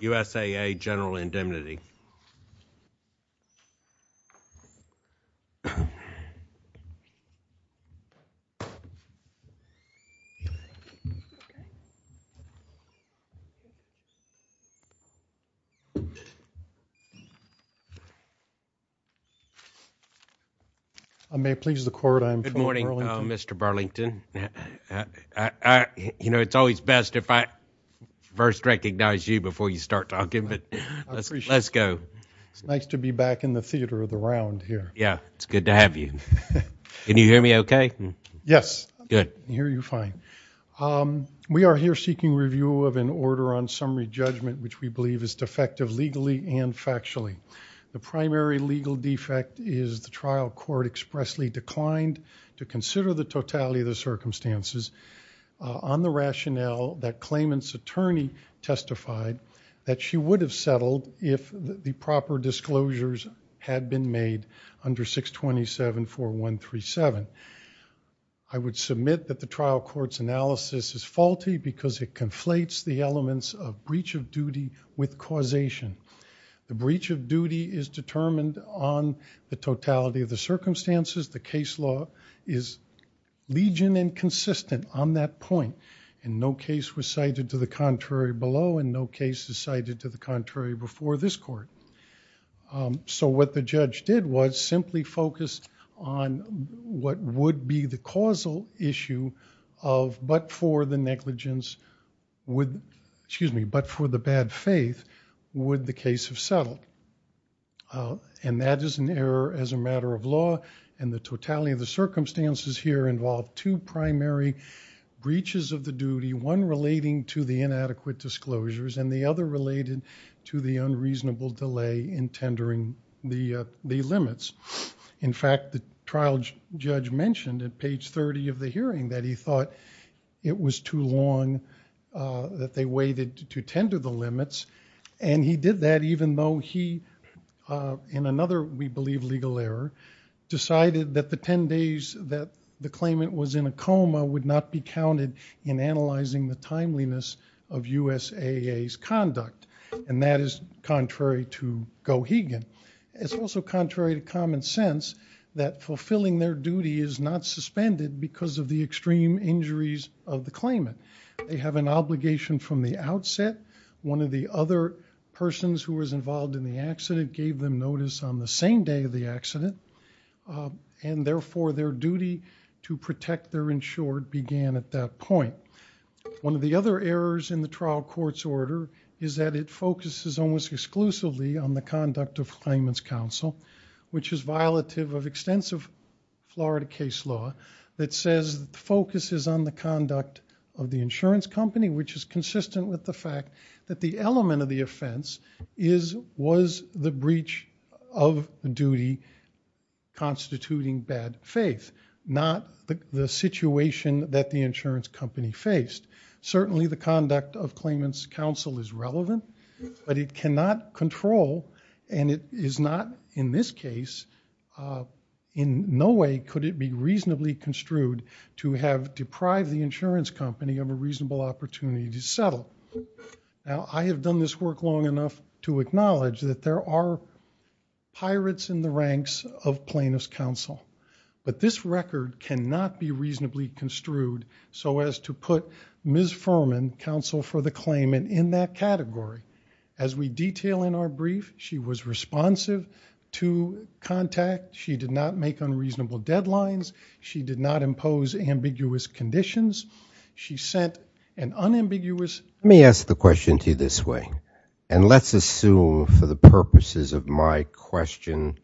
USAA General Indemnity I may please the court I'm good morning mr. Burlington yeah I you know it's always best if I first recognize you before you start talking but let's go it's nice to be back in the theater of the round here yeah it's good to have you can you hear me okay yes good hear you fine we are here seeking review of an order on summary judgment which we believe is defective legally and factually the primary legal defect is the trial court expressly declined to consider the totality of the circumstances on the rationale that the proper disclosures had been made under 627 4137 I would submit that the trial courts analysis is faulty because it conflates the elements of breach of duty with causation the breach of duty is determined on the totality of the circumstances the case law is legion and consistent on that point and no case was cited to the contrary below and no case is cited to the contrary before this court so what the judge did was simply focused on what would be the causal issue of but for the negligence would excuse me but for the bad faith would the case have settled and that is an error as a matter of law and the totality of the circumstances here involved two primary breaches of the duty one relating to the inadequate disclosures and the other related to the unreasonable delay in tendering the limits in fact the trial judge mentioned at page 30 of the hearing that he thought it was too long that they waited to tender the limits and he did that even though he in another we believe legal error decided that the ten days that the claimant was in a coma would not be counted in analyzing the timeliness of USAA's conduct and that is contrary to go again it's also contrary to common sense that fulfilling their duty is not suspended because of the extreme injuries of the claimant they have an obligation from the outset one of the other persons who was involved in the accident gave them notice on the same day of the accident and therefore their duty to protect their insured began at that point one of the other errors in the trial court's order is that it focuses almost exclusively on the conduct of claimant's counsel which is violative of extensive Florida case law that says focuses on the conduct of the insurance company which is consistent with the fact that the element of the offense is was the breach of duty constituting bad faith not the situation that the insurance company faced certainly the conduct of claimant's counsel is relevant but it cannot control and it is not in this case in no way could it be reasonably construed to have deprived the insurance company of a reasonable opportunity to settle now I have done this work long enough to acknowledge that there are pirates in the ranks of plaintiff's counsel but this record cannot be Ms. Furman counsel for the claimant in that category as we detail in our brief she was responsive to contact she did not make unreasonable deadlines she did not impose ambiguous conditions she sent an unambiguous let me ask the question to you this way and let's assume for the purposes of my question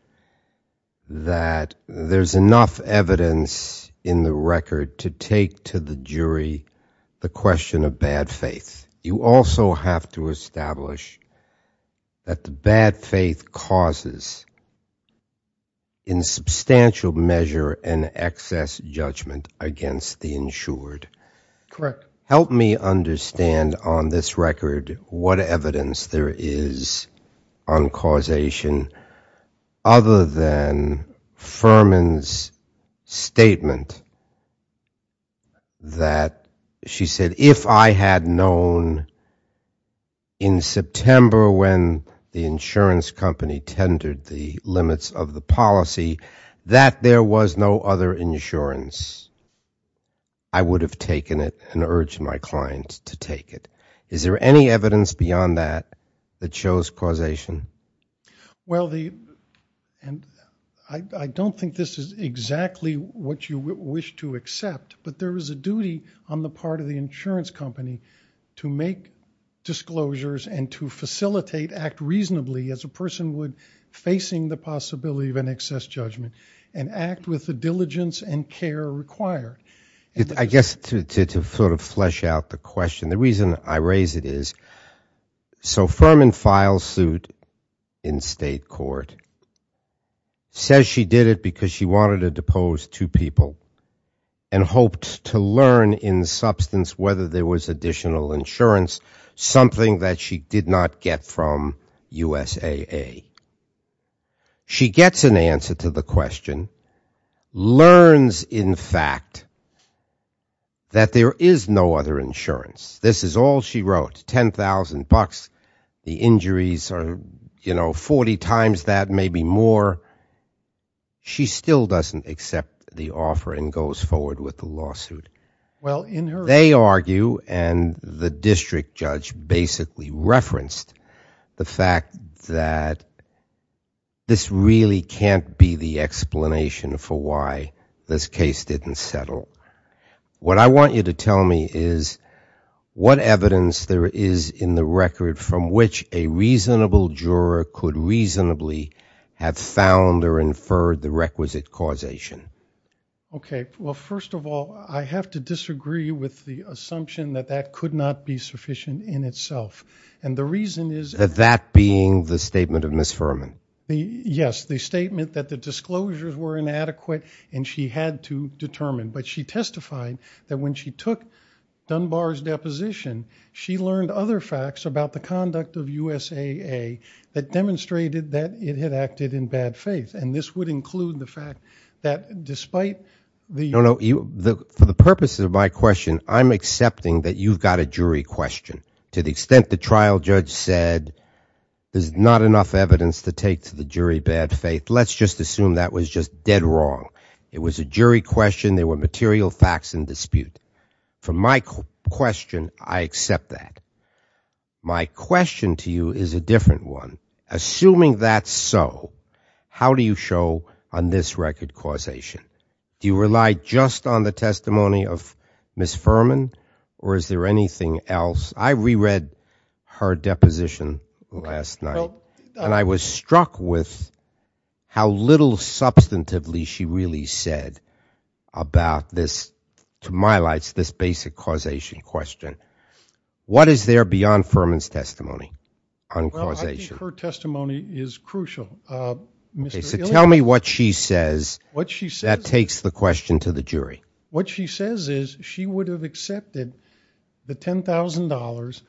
that there's enough evidence in the record to take to the jury the question of bad faith you also have to establish that the bad faith causes in substantial measure and excess judgment against the insured correct help me understand on this statement that she said if I had known in September when the insurance company tendered the limits of the policy that there was no other insurance I would have taken it and urge my clients to take it is there any evidence beyond that that shows causation well the and I don't think this is exactly what you wish to accept but there is a duty on the part of the insurance company to make disclosures and to facilitate act reasonably as a person would facing the possibility of an excess judgment and act with the diligence and care required I guess to sort of flesh out the question the reason I raise it is so firm in file suit in state court says she did it because she wanted to depose two people and hoped to learn in substance whether there was additional insurance something that she did not get from USAA she gets an answer to the that there is no other insurance this is all she wrote 10,000 bucks the injuries are you know 40 times that maybe more she still doesn't accept the offer and goes forward with the lawsuit well in her they argue and the district judge basically referenced the fact that this really can't be the explanation for why this case didn't settle what I want you to tell me is what evidence there is in the record from which a reasonable juror could reasonably have found or inferred the requisite causation ok well first of all I have to disagree with the assumption that that could not be sufficient in itself and the reason is that that being the statement of Miss Furman yes the statement that the had to determine but she testified that when she took Dunbar's deposition she learned other facts about the conduct of USAA that demonstrated that it had acted in bad faith and this would include the fact that despite the purpose of my question I'm accepting that you've got a jury question to the extent the trial judge said there's not enough evidence to take to the jury bad faith let's just assume that was just dead wrong it was a jury question they were material facts and dispute from my question I accept that my question to you is a different one assuming that's so how do you show on this record causation do you rely just on the testimony of Miss Furman or is there anything else I reread her substantively she really said about this to my lights this basic causation question what is there beyond Furman's testimony on causation her testimony is crucial mr. tell me what she says what she said takes the question to the jury what she says is she would have accepted the $10,000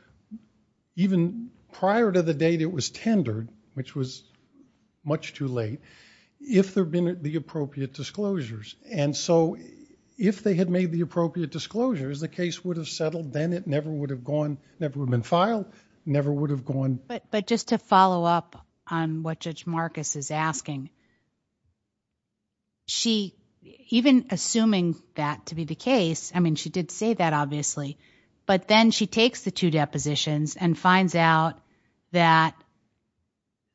even prior to the date it was if there been at the appropriate disclosures and so if they had made the appropriate disclosures the case would have settled then it never would have gone never been filed never would have gone but but just to follow up on what judge Marcus is asking she even assuming that to be the case I mean she did say that obviously but then she takes the two depositions and finds out that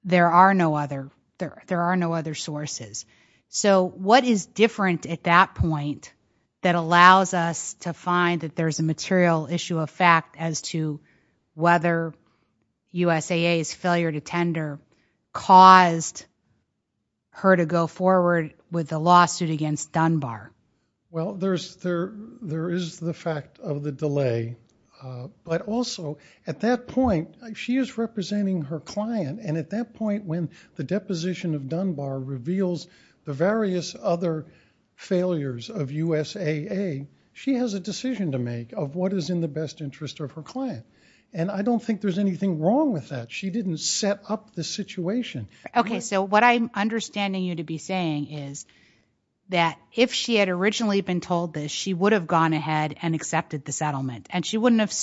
there are no other there there are no other sources so what is different at that point that allows us to find that there's a material issue of fact as to whether USAA's failure to tender caused her to go forward with the lawsuit against Dunbar well there's there there is the fact of the delay but also at point she is representing her client and at that point when the deposition of Dunbar reveals the various other failures of USAA she has a decision to make of what is in the best interest of her client and I don't think there's anything wrong with that she didn't set up the situation okay so what I'm understanding you to be saying is that if she had originally been told this she would have gone ahead and accepted the settlement and she wouldn't have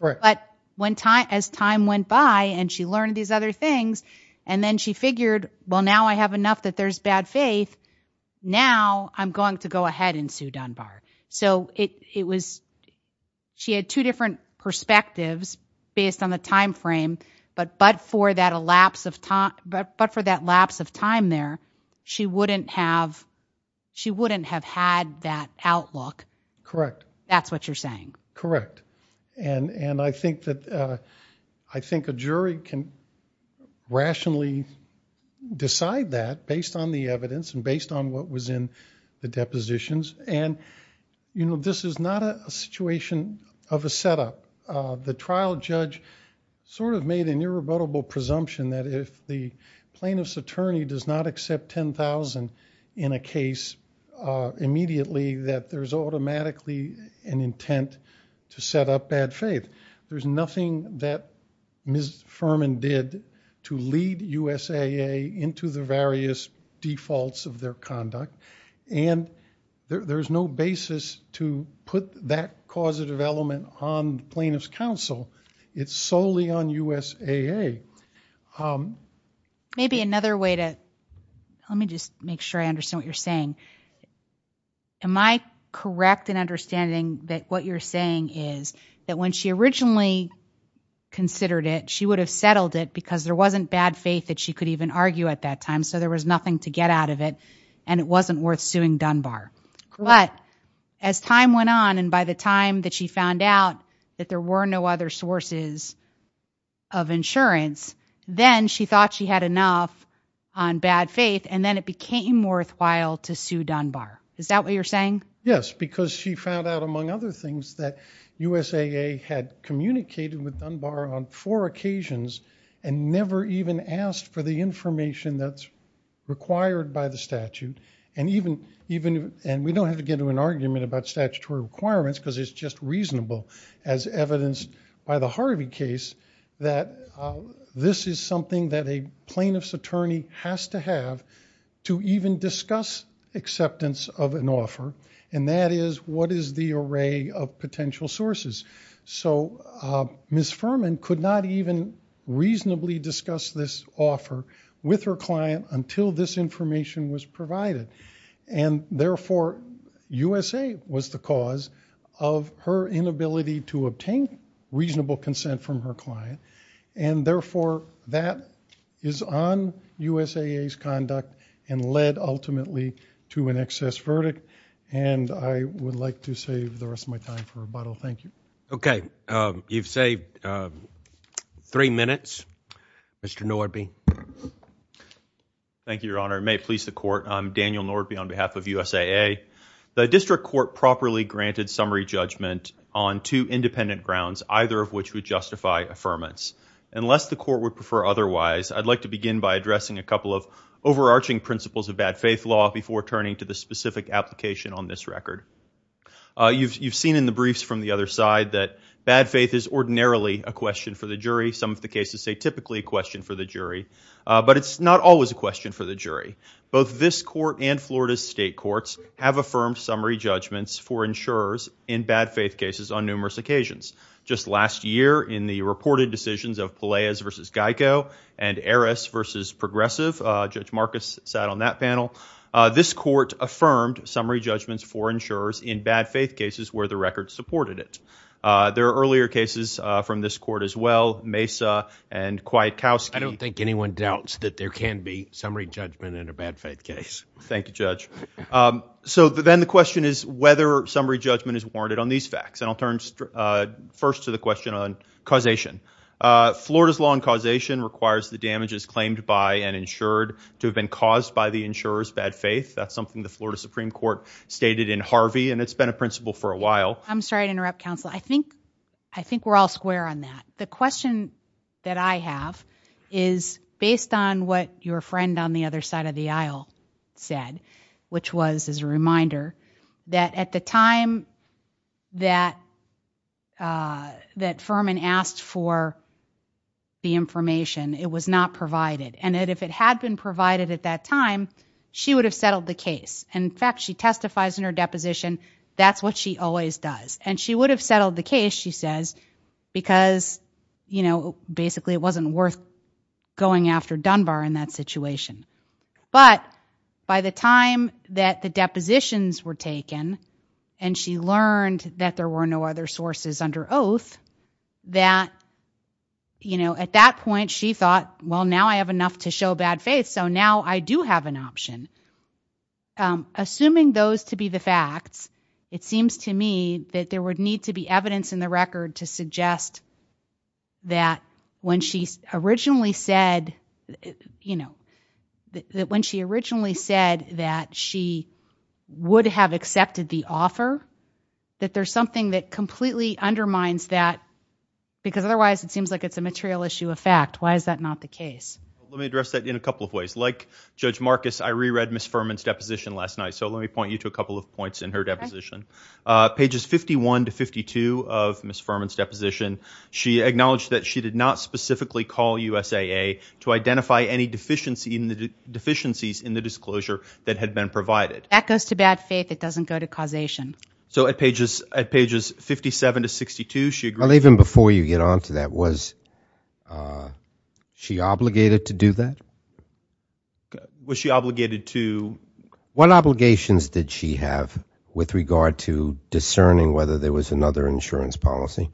right but when time as time went by and she learned these other things and then she figured well now I have enough that there's bad faith now I'm going to go ahead and sue Dunbar so it it was she had two different perspectives based on the time frame but but for that a lapse of time but but for that lapse of time there she wouldn't have she wouldn't have had that outlook correct that's what you're saying correct and and I think that I think a jury can rationally decide that based on the evidence and based on what was in the depositions and you know this is not a situation of a setup the trial judge sort of made an irrebuttable presumption that if the plaintiff's attorney does not accept 10,000 in a case immediately that there's automatically an intent to set up bad faith there's nothing that Ms. Furman did to lead USAA into the various defaults of their conduct and there's no basis to put that cause of development on plaintiff's counsel it's solely on USAA. Maybe another way to let me just make sure I understand what you're saying am I correct in understanding that what you're saying is that when she originally considered it she would have settled it because there wasn't bad faith that she could even argue at that time so there was nothing to get out of it and it wasn't worth suing Dunbar but as time went on and by the time that she found out that there were no other sources of insurance then she thought she had enough on bad faith and then it became worthwhile to sue Dunbar is that what you're saying? Yes because she found out among other things that USAA had communicated with Dunbar on four occasions and never even asked for the information that's required by the argument about statutory requirements because it's just reasonable as evidenced by the Harvey case that this is something that a plaintiff's attorney has to have to even discuss acceptance of an offer and that is what is the array of potential sources so Ms. Furman could not even reasonably discuss this offer with her client until this information was provided and therefore USA was the cause of her inability to obtain reasonable consent from her client and therefore that is on USAA's conduct and led ultimately to an excess verdict and I would like to save the rest of my time for rebuttal thank you. Okay you've saved three minutes Mr. Nordby. Thank you your honor may it please the court I'm Daniel Nordby on behalf of USAA the district court properly granted summary judgment on two independent grounds either of which would justify affirmance unless the court would prefer otherwise I'd like to begin by addressing a couple of overarching principles of bad faith law before turning to the specific application on this record you've seen in the briefs from the other side that faith is ordinarily a question for the jury some of the cases say typically a question for the jury but it's not always a question for the jury both this court and Florida's state courts have affirmed summary judgments for insurers in bad faith cases on numerous occasions just last year in the reported decisions of Peleas versus Geico and Eris versus progressive judge Marcus sat on that panel this court affirmed summary judgments for insurers in bad faith cases where the record supported it there are earlier cases from this court as well Mesa and quiet cows I don't think anyone doubts that there can be summary judgment in a bad faith case thank you judge so then the question is whether summary judgment is warranted on these facts and I'll turn first to the question on causation Florida's law and causation requires the damages claimed by and insured to have been caused by the insurers bad faith that's something the Florida Supreme Court stated in Harvey and it's been a principle for a while I'm sorry to interrupt counsel I think I think we're all square on that the question that I have is based on what your friend on the other side of the aisle said which was as a reminder that at the time that that Furman asked for the information it was not provided and if it had been provided at that time she would have settled the case in fact she testifies in her deposition that's what she always does and she would have settled the case she says because you know basically it wasn't worth going after Dunbar in that situation but by the time that the depositions were taken and she learned that there were no other sources under oath that you know at that point she thought well now I have enough to show bad faith so now I do have an option assuming those to be the facts it seems to me that there would need to be evidence in the record to suggest that when she originally said you know that when she originally said that she would have accepted the offer that there's something that completely undermines that because otherwise it seems like it's a material issue of fact why is that not the case let me address that in a couple of ways like Judge Marcus I reread Miss Furman's deposition last night so let me point you to a couple of points in her deposition pages 51 to 52 of Miss Furman's deposition she acknowledged that she did not specifically call USAA to identify any deficiency in the deficiencies in the disclosure that had been provided echoes to bad faith it doesn't go to causation so at pages at pages 57 to 62 she obligated to do that was she obligated to what obligations did she have with regard to discerning whether there was another insurance policy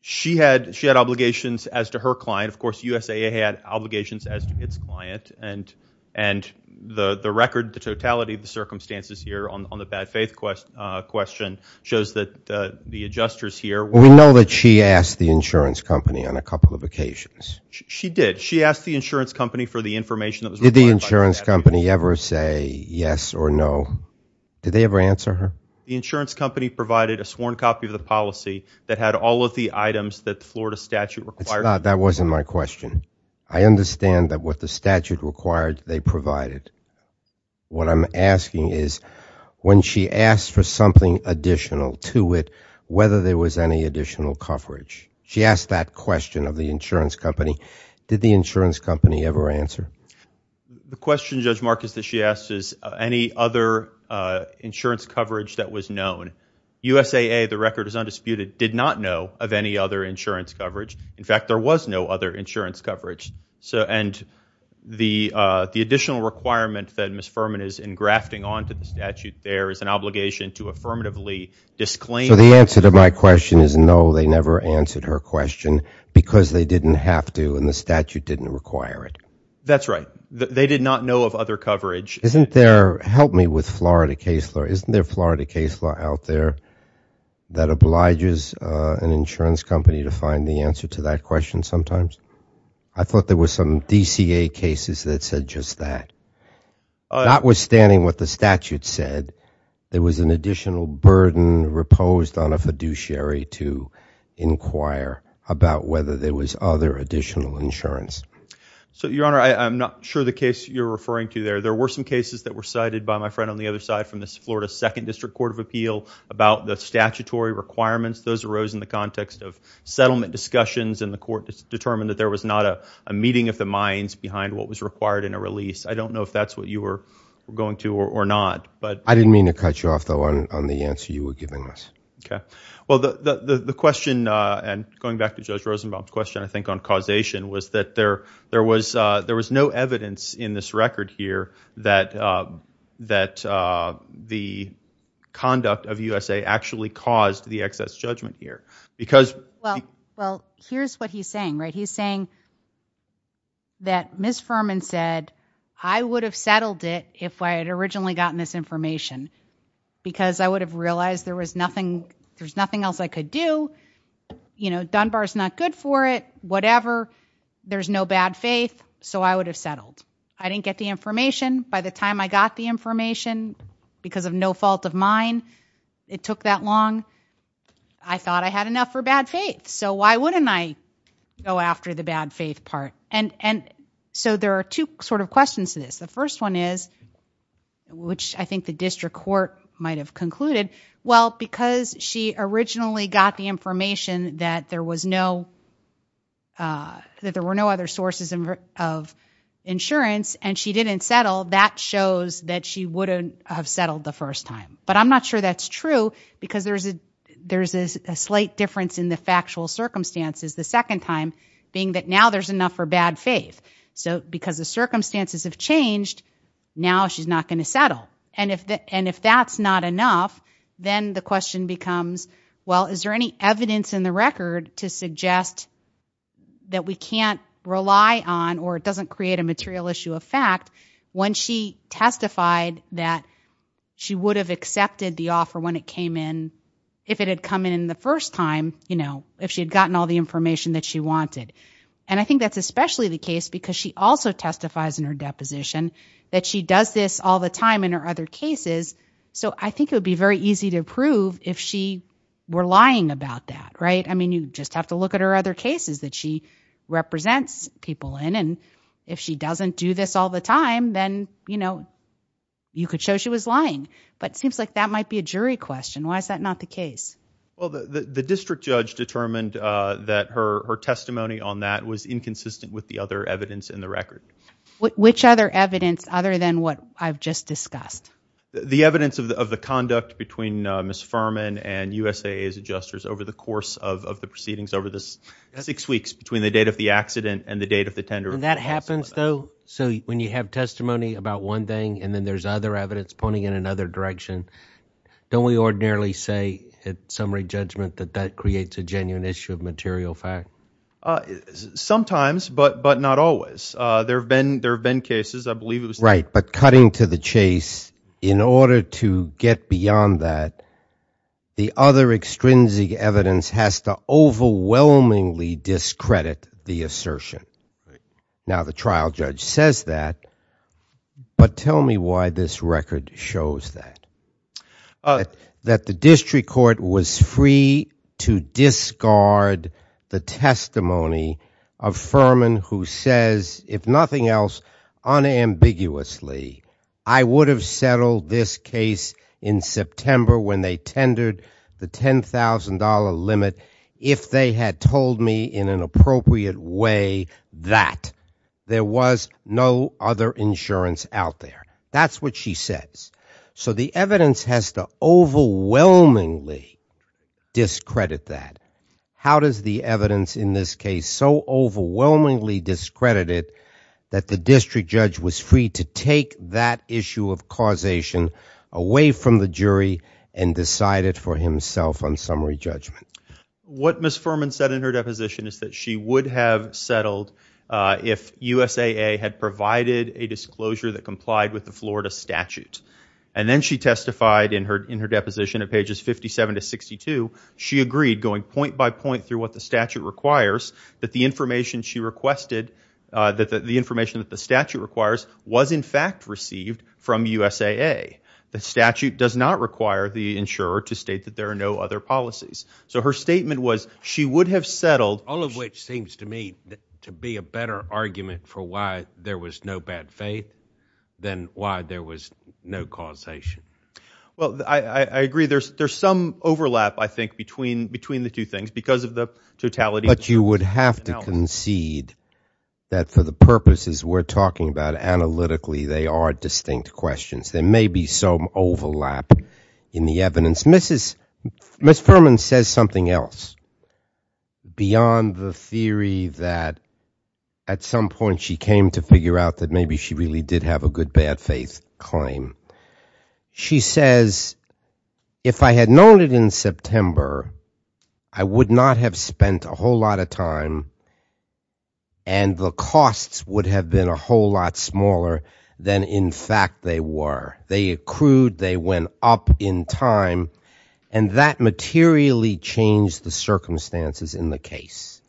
she had she had obligations as to her client of course USAA had obligations as to its client and and the the record the totality of the circumstances here on the bad faith quest question shows that the adjusters here we know that she asked the insurance company on a couple of occasions she did she asked the insurance company for the information that was the insurance company ever say yes or no did they ever answer her the insurance company provided a sworn copy of the policy that had all of the items that Florida statute required that wasn't my question I understand that what the statute required they provided what I'm asking is when she asked for something additional to it whether there was any additional coverage she asked that question of the insurance company did the insurance company ever answer the question judge Marcus that she asked is any other insurance coverage that was known USAA the record is undisputed did not know of any other insurance coverage in fact there was no other insurance coverage so and the the additional requirement that miss Furman is in grafting on to the statute there is an obligation to affirmatively disclaim so my question is no they never answered her question because they didn't have to and the statute didn't require it that's right they did not know of other coverage isn't there help me with Florida case law isn't there Florida case law out there that obliges an insurance company to find the answer to that question sometimes I thought there was some DCA cases that said just that notwithstanding what the statute said there was an additional burden reposed on a fiduciary to inquire about whether there was other additional insurance so your honor I'm not sure the case you're referring to there there were some cases that were cited by my friend on the other side from this Florida Second District Court of Appeal about the statutory requirements those arose in the context of settlement discussions and the court determined that there was not a meeting of the minds behind what was required in a release I don't know if that's what you were going to or not but I didn't mean to cut you off though on the answer you were giving us okay well the the question and going back to judge Rosenbaum's question I think on causation was that there there was there was no evidence in this record here that that the conduct of USA actually caused the excess judgment here because well well here's what he's saying right he's saying that miss Furman said I would have settled it if I had originally gotten this information because I would have realized there was nothing there's nothing else I could do you know Dunbar's not good for it whatever there's no bad faith so I would have settled I didn't get the information by the time I got the information because of no fault of mine it took that long I thought I had enough for bad faith so why wouldn't I go after the bad faith part and and so there are two sort of questions to this the first one is which I think the district court might have concluded well because she originally got the information that there was no that there were no other sources of insurance and she didn't settle that shows that she wouldn't have settled the first time but I'm not sure that's true because there's a there's a slight difference in the factual circumstances the second time being that now there's enough for bad so because the circumstances have changed now she's not going to settle and if that and if that's not enough then the question becomes well is there any evidence in the record to suggest that we can't rely on or it doesn't create a material issue of fact when she testified that she would have accepted the offer when it came in if it had come in the first time you know if she had gotten all the information that she wanted and I think that's especially the case because she also testifies in her deposition that she does this all the time in her other cases so I think it would be very easy to prove if she were lying about that right I mean you just have to look at her other cases that she represents people in and if she doesn't do this all the time then you know you could show she was lying but seems like that might be a jury question why is that not the case well the the district judge determined that her her testimony on that was inconsistent with the other evidence in the record which other evidence other than what I've just discussed the evidence of the conduct between miss Furman and USA is adjusters over the course of the proceedings over this six weeks between the date of the accident and the date of the tender and that happens though so when you have testimony about one thing and then there's other evidence pointing in another direction don't we ordinarily say at summary judgment that that creates a genuine issue of material fact sometimes but but not always there have been there have been cases I believe it was right but cutting to the chase in order to get beyond that the other extrinsic evidence has to overwhelmingly discredit the assertion now the trial judge says that but tell me why this record shows that that the district court was free to discard the testimony of Furman who says if nothing else unambiguously I would have settled this case in September when they tendered the $10,000 limit if they had told me in an appropriate way that there was no other insurance out there that's what she says so the evidence has the overwhelming discredit that how does the evidence in this case so overwhelmingly discredited that the district judge was free to take that issue of causation away from the jury and decided for himself on summary judgment what miss Furman said in her deposition is that she would have settled if USAA had provided a disclosure that complied with the Florida statute and then she testified in her in her deposition of pages 57 to 62 she agreed going point by point through what the statute requires that the information she requested that the information that the statute requires was in fact received from USAA the statute does not require the insurer to state that there are no other policies so her statement was she would have settled all of which seems to me to be a better argument for why there was no bad faith than why there was no causation well I agree there's there's some overlap I think between between the two things because of the totality but you would have to concede that for the purposes we're talking about analytically they are distinct questions there may be some overlap in the evidence mrs. miss Furman says something else beyond the theory that at some point she came to figure out that maybe she really did have a good bad faith claim she says if I had known it in September I would not have spent a whole lot of time and the costs would have been a whole lot smaller than in fact they were they accrued they went up in time and that materially changed the circumstances in the case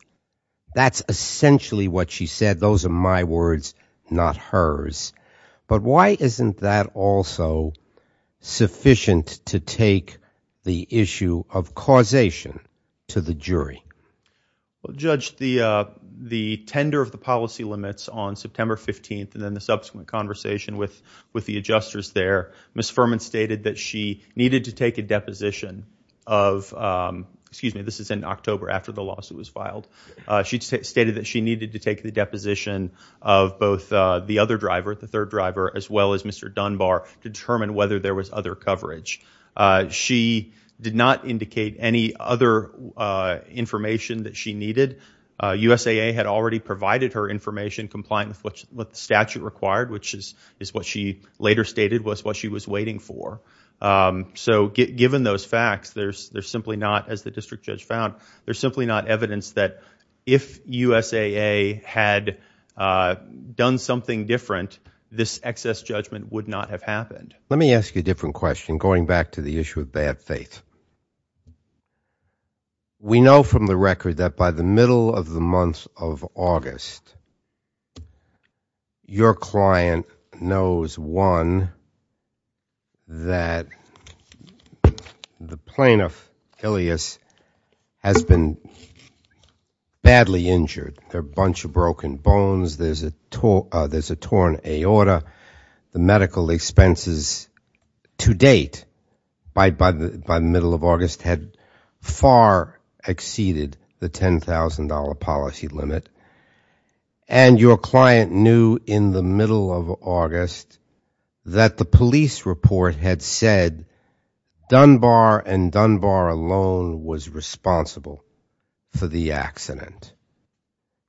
that's essentially what she said those are my words not hers but why isn't that also sufficient to take the issue of causation to the jury well judge the the tender of the policy limits on September 15th and then the subsequent conversation with with the adjusters there miss Furman stated that she needed to take a deposition of excuse me this is in October after the lawsuit was she needed to take the deposition of both the other driver at the third driver as well as mr. Dunbar determine whether there was other coverage she did not indicate any other information that she needed USAA had already provided her information compliant with what the statute required which is is what she later stated was what she was waiting for so given those facts there's there's simply not as the district judge found there's simply not evidence that if USA had done something different this excess judgment would not have happened let me ask you a different question going back to the issue of bad faith we know from the record that by the middle of the month of August your client knows one that the plaintiff Ilyas has been badly injured their bunch of broken bones there's a tour there's a torn aorta the medical expenses to date by by the by middle of August had far exceeded the $10,000 policy limit and your client in the middle of August that the police report had said Dunbar and Dunbar alone was responsible for the accident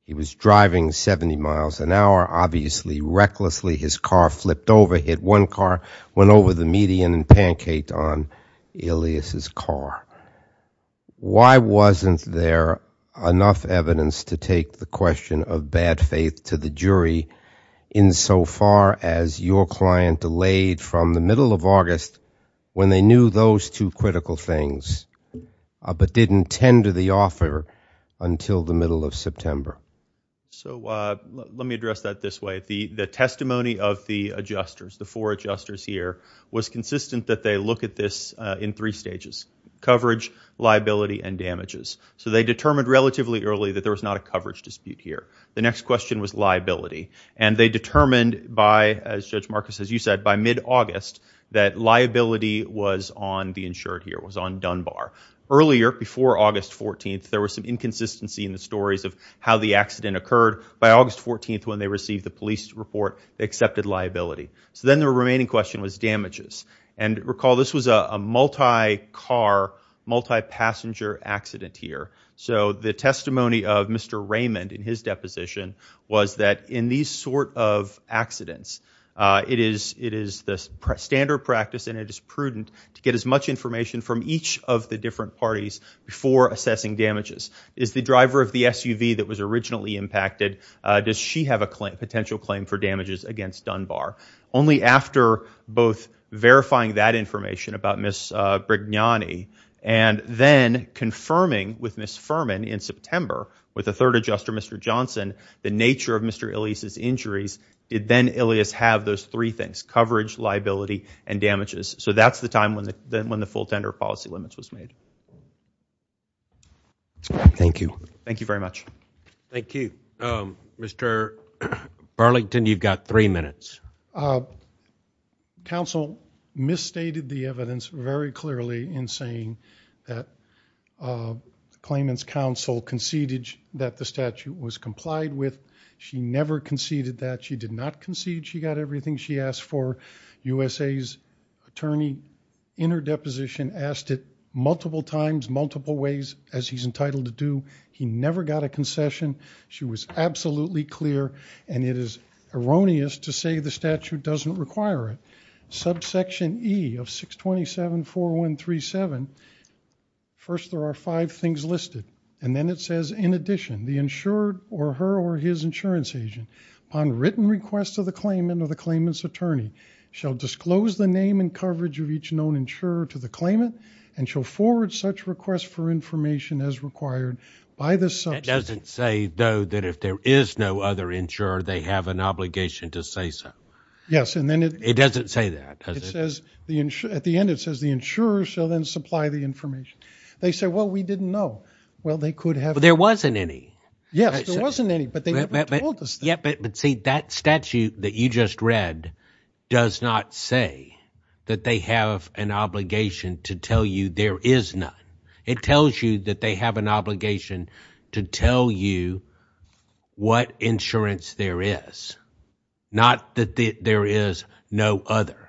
he was driving 70 miles an hour obviously recklessly his car flipped over hit one car went over the median and pancaked on Ilyas's car why wasn't there enough evidence to take the question of bad faith to the jury in so far as your client delayed from the middle of August when they knew those two critical things but didn't tend to the offer until the middle of September so let me address that this way the testimony of the adjusters the four adjusters here was consistent that they look at this in three stages coverage liability and damages so they determined relatively early that there was not a coverage dispute here the next question was liability and they determined by as Judge Marcus as you said by mid-August that liability was on the insured here was on Dunbar earlier before August 14th there was some inconsistency in the stories of how the accident occurred by August 14th when they received the police report they accepted liability so then the remaining question was damages and recall this was a multi car multi-passenger accident here so the testimony of Mr. Raymond in his deposition was that in these sort of accidents it is it is the standard practice and it is prudent to get as much information from each of the different parties before assessing damages is the driver of the SUV that was originally impacted does she have a claim potential claim for damages against Dunbar only after both verifying that information about Miss Brignani and then confirming with Miss Furman in September with a third adjuster mr. Johnson the nature of mr. Elise's injuries did then Ilias have those three things coverage liability and damages so that's the time when the then when the full tender policy limits was made thank you thank you very much thank you mr. Burlington you've got three minutes counsel misstated the evidence very clearly in saying that claimants counsel conceded that the statute was complied with she never conceded that she did not concede she got everything she asked for USA's attorney in her deposition asked it multiple times multiple ways as he's entitled to do he never got a concession she was absolutely clear and it is erroneous to say the statute doesn't require it subsection e of 627 4137 first there are five things listed and then it says in addition the insured or her or his insurance agent on written requests of the claimant of the claimants attorney shall disclose the name and coverage of each known insurer to the claimant and shall forward such for information as required by the subject doesn't say though that if there is no other insurer they have an obligation to say so yes and then it it doesn't say that it says the ensure at the end it says the insurer shall then supply the information they say well we didn't know well they could have there wasn't any yes there wasn't any but they never told us yep it would see that statute that you just read does not say that they have an obligation to tell you there is not it tells you that they have an obligation to tell you what insurance there is not that there is no other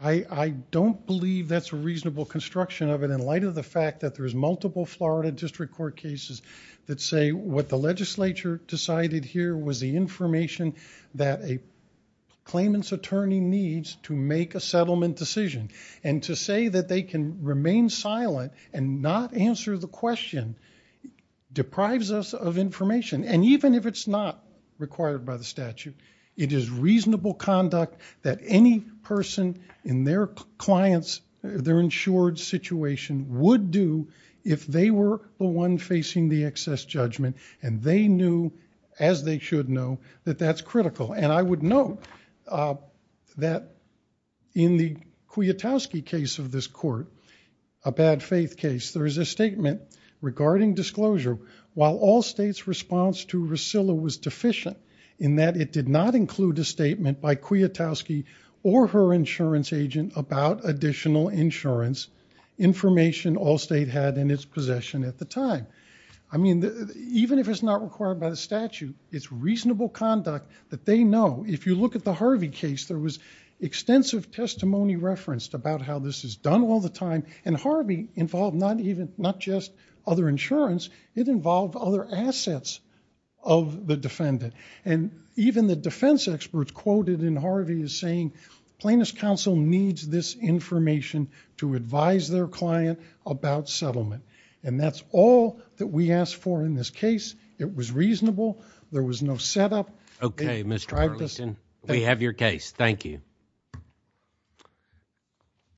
I I don't believe that's a reasonable construction of it in light of the fact that there is multiple Florida District Court cases that say what the legislature decided here was the information that a claimant's attorney needs to make a settlement decision and to say that they can remain silent and not answer the question deprives us of information and even if it's not required by the statute it is reasonable conduct that any person in their clients their insured situation would do if they were the one facing the excess judgment and they knew as they should know that that's critical and I would know that in the Kwiatkowski case of this court a bad faith case there is a statement regarding disclosure while all states response to recital was deficient in that it did not include a statement by Kwiatkowski or her insurance agent about additional insurance information all state had in its possession at the time I mean even if it's not required by the statute it's reasonable conduct that they know if you look at the Harvey case there was extensive testimony referenced about how this is done all the time and Harvey involved not even not just other insurance it involved other assets of the defendant and even the defense experts quoted in Harvey is saying plaintiff's counsel needs this information to advise their client about settlement and that's all that we asked for in this case it was reasonable there was no set up okay mr. Arlington we have your case thank you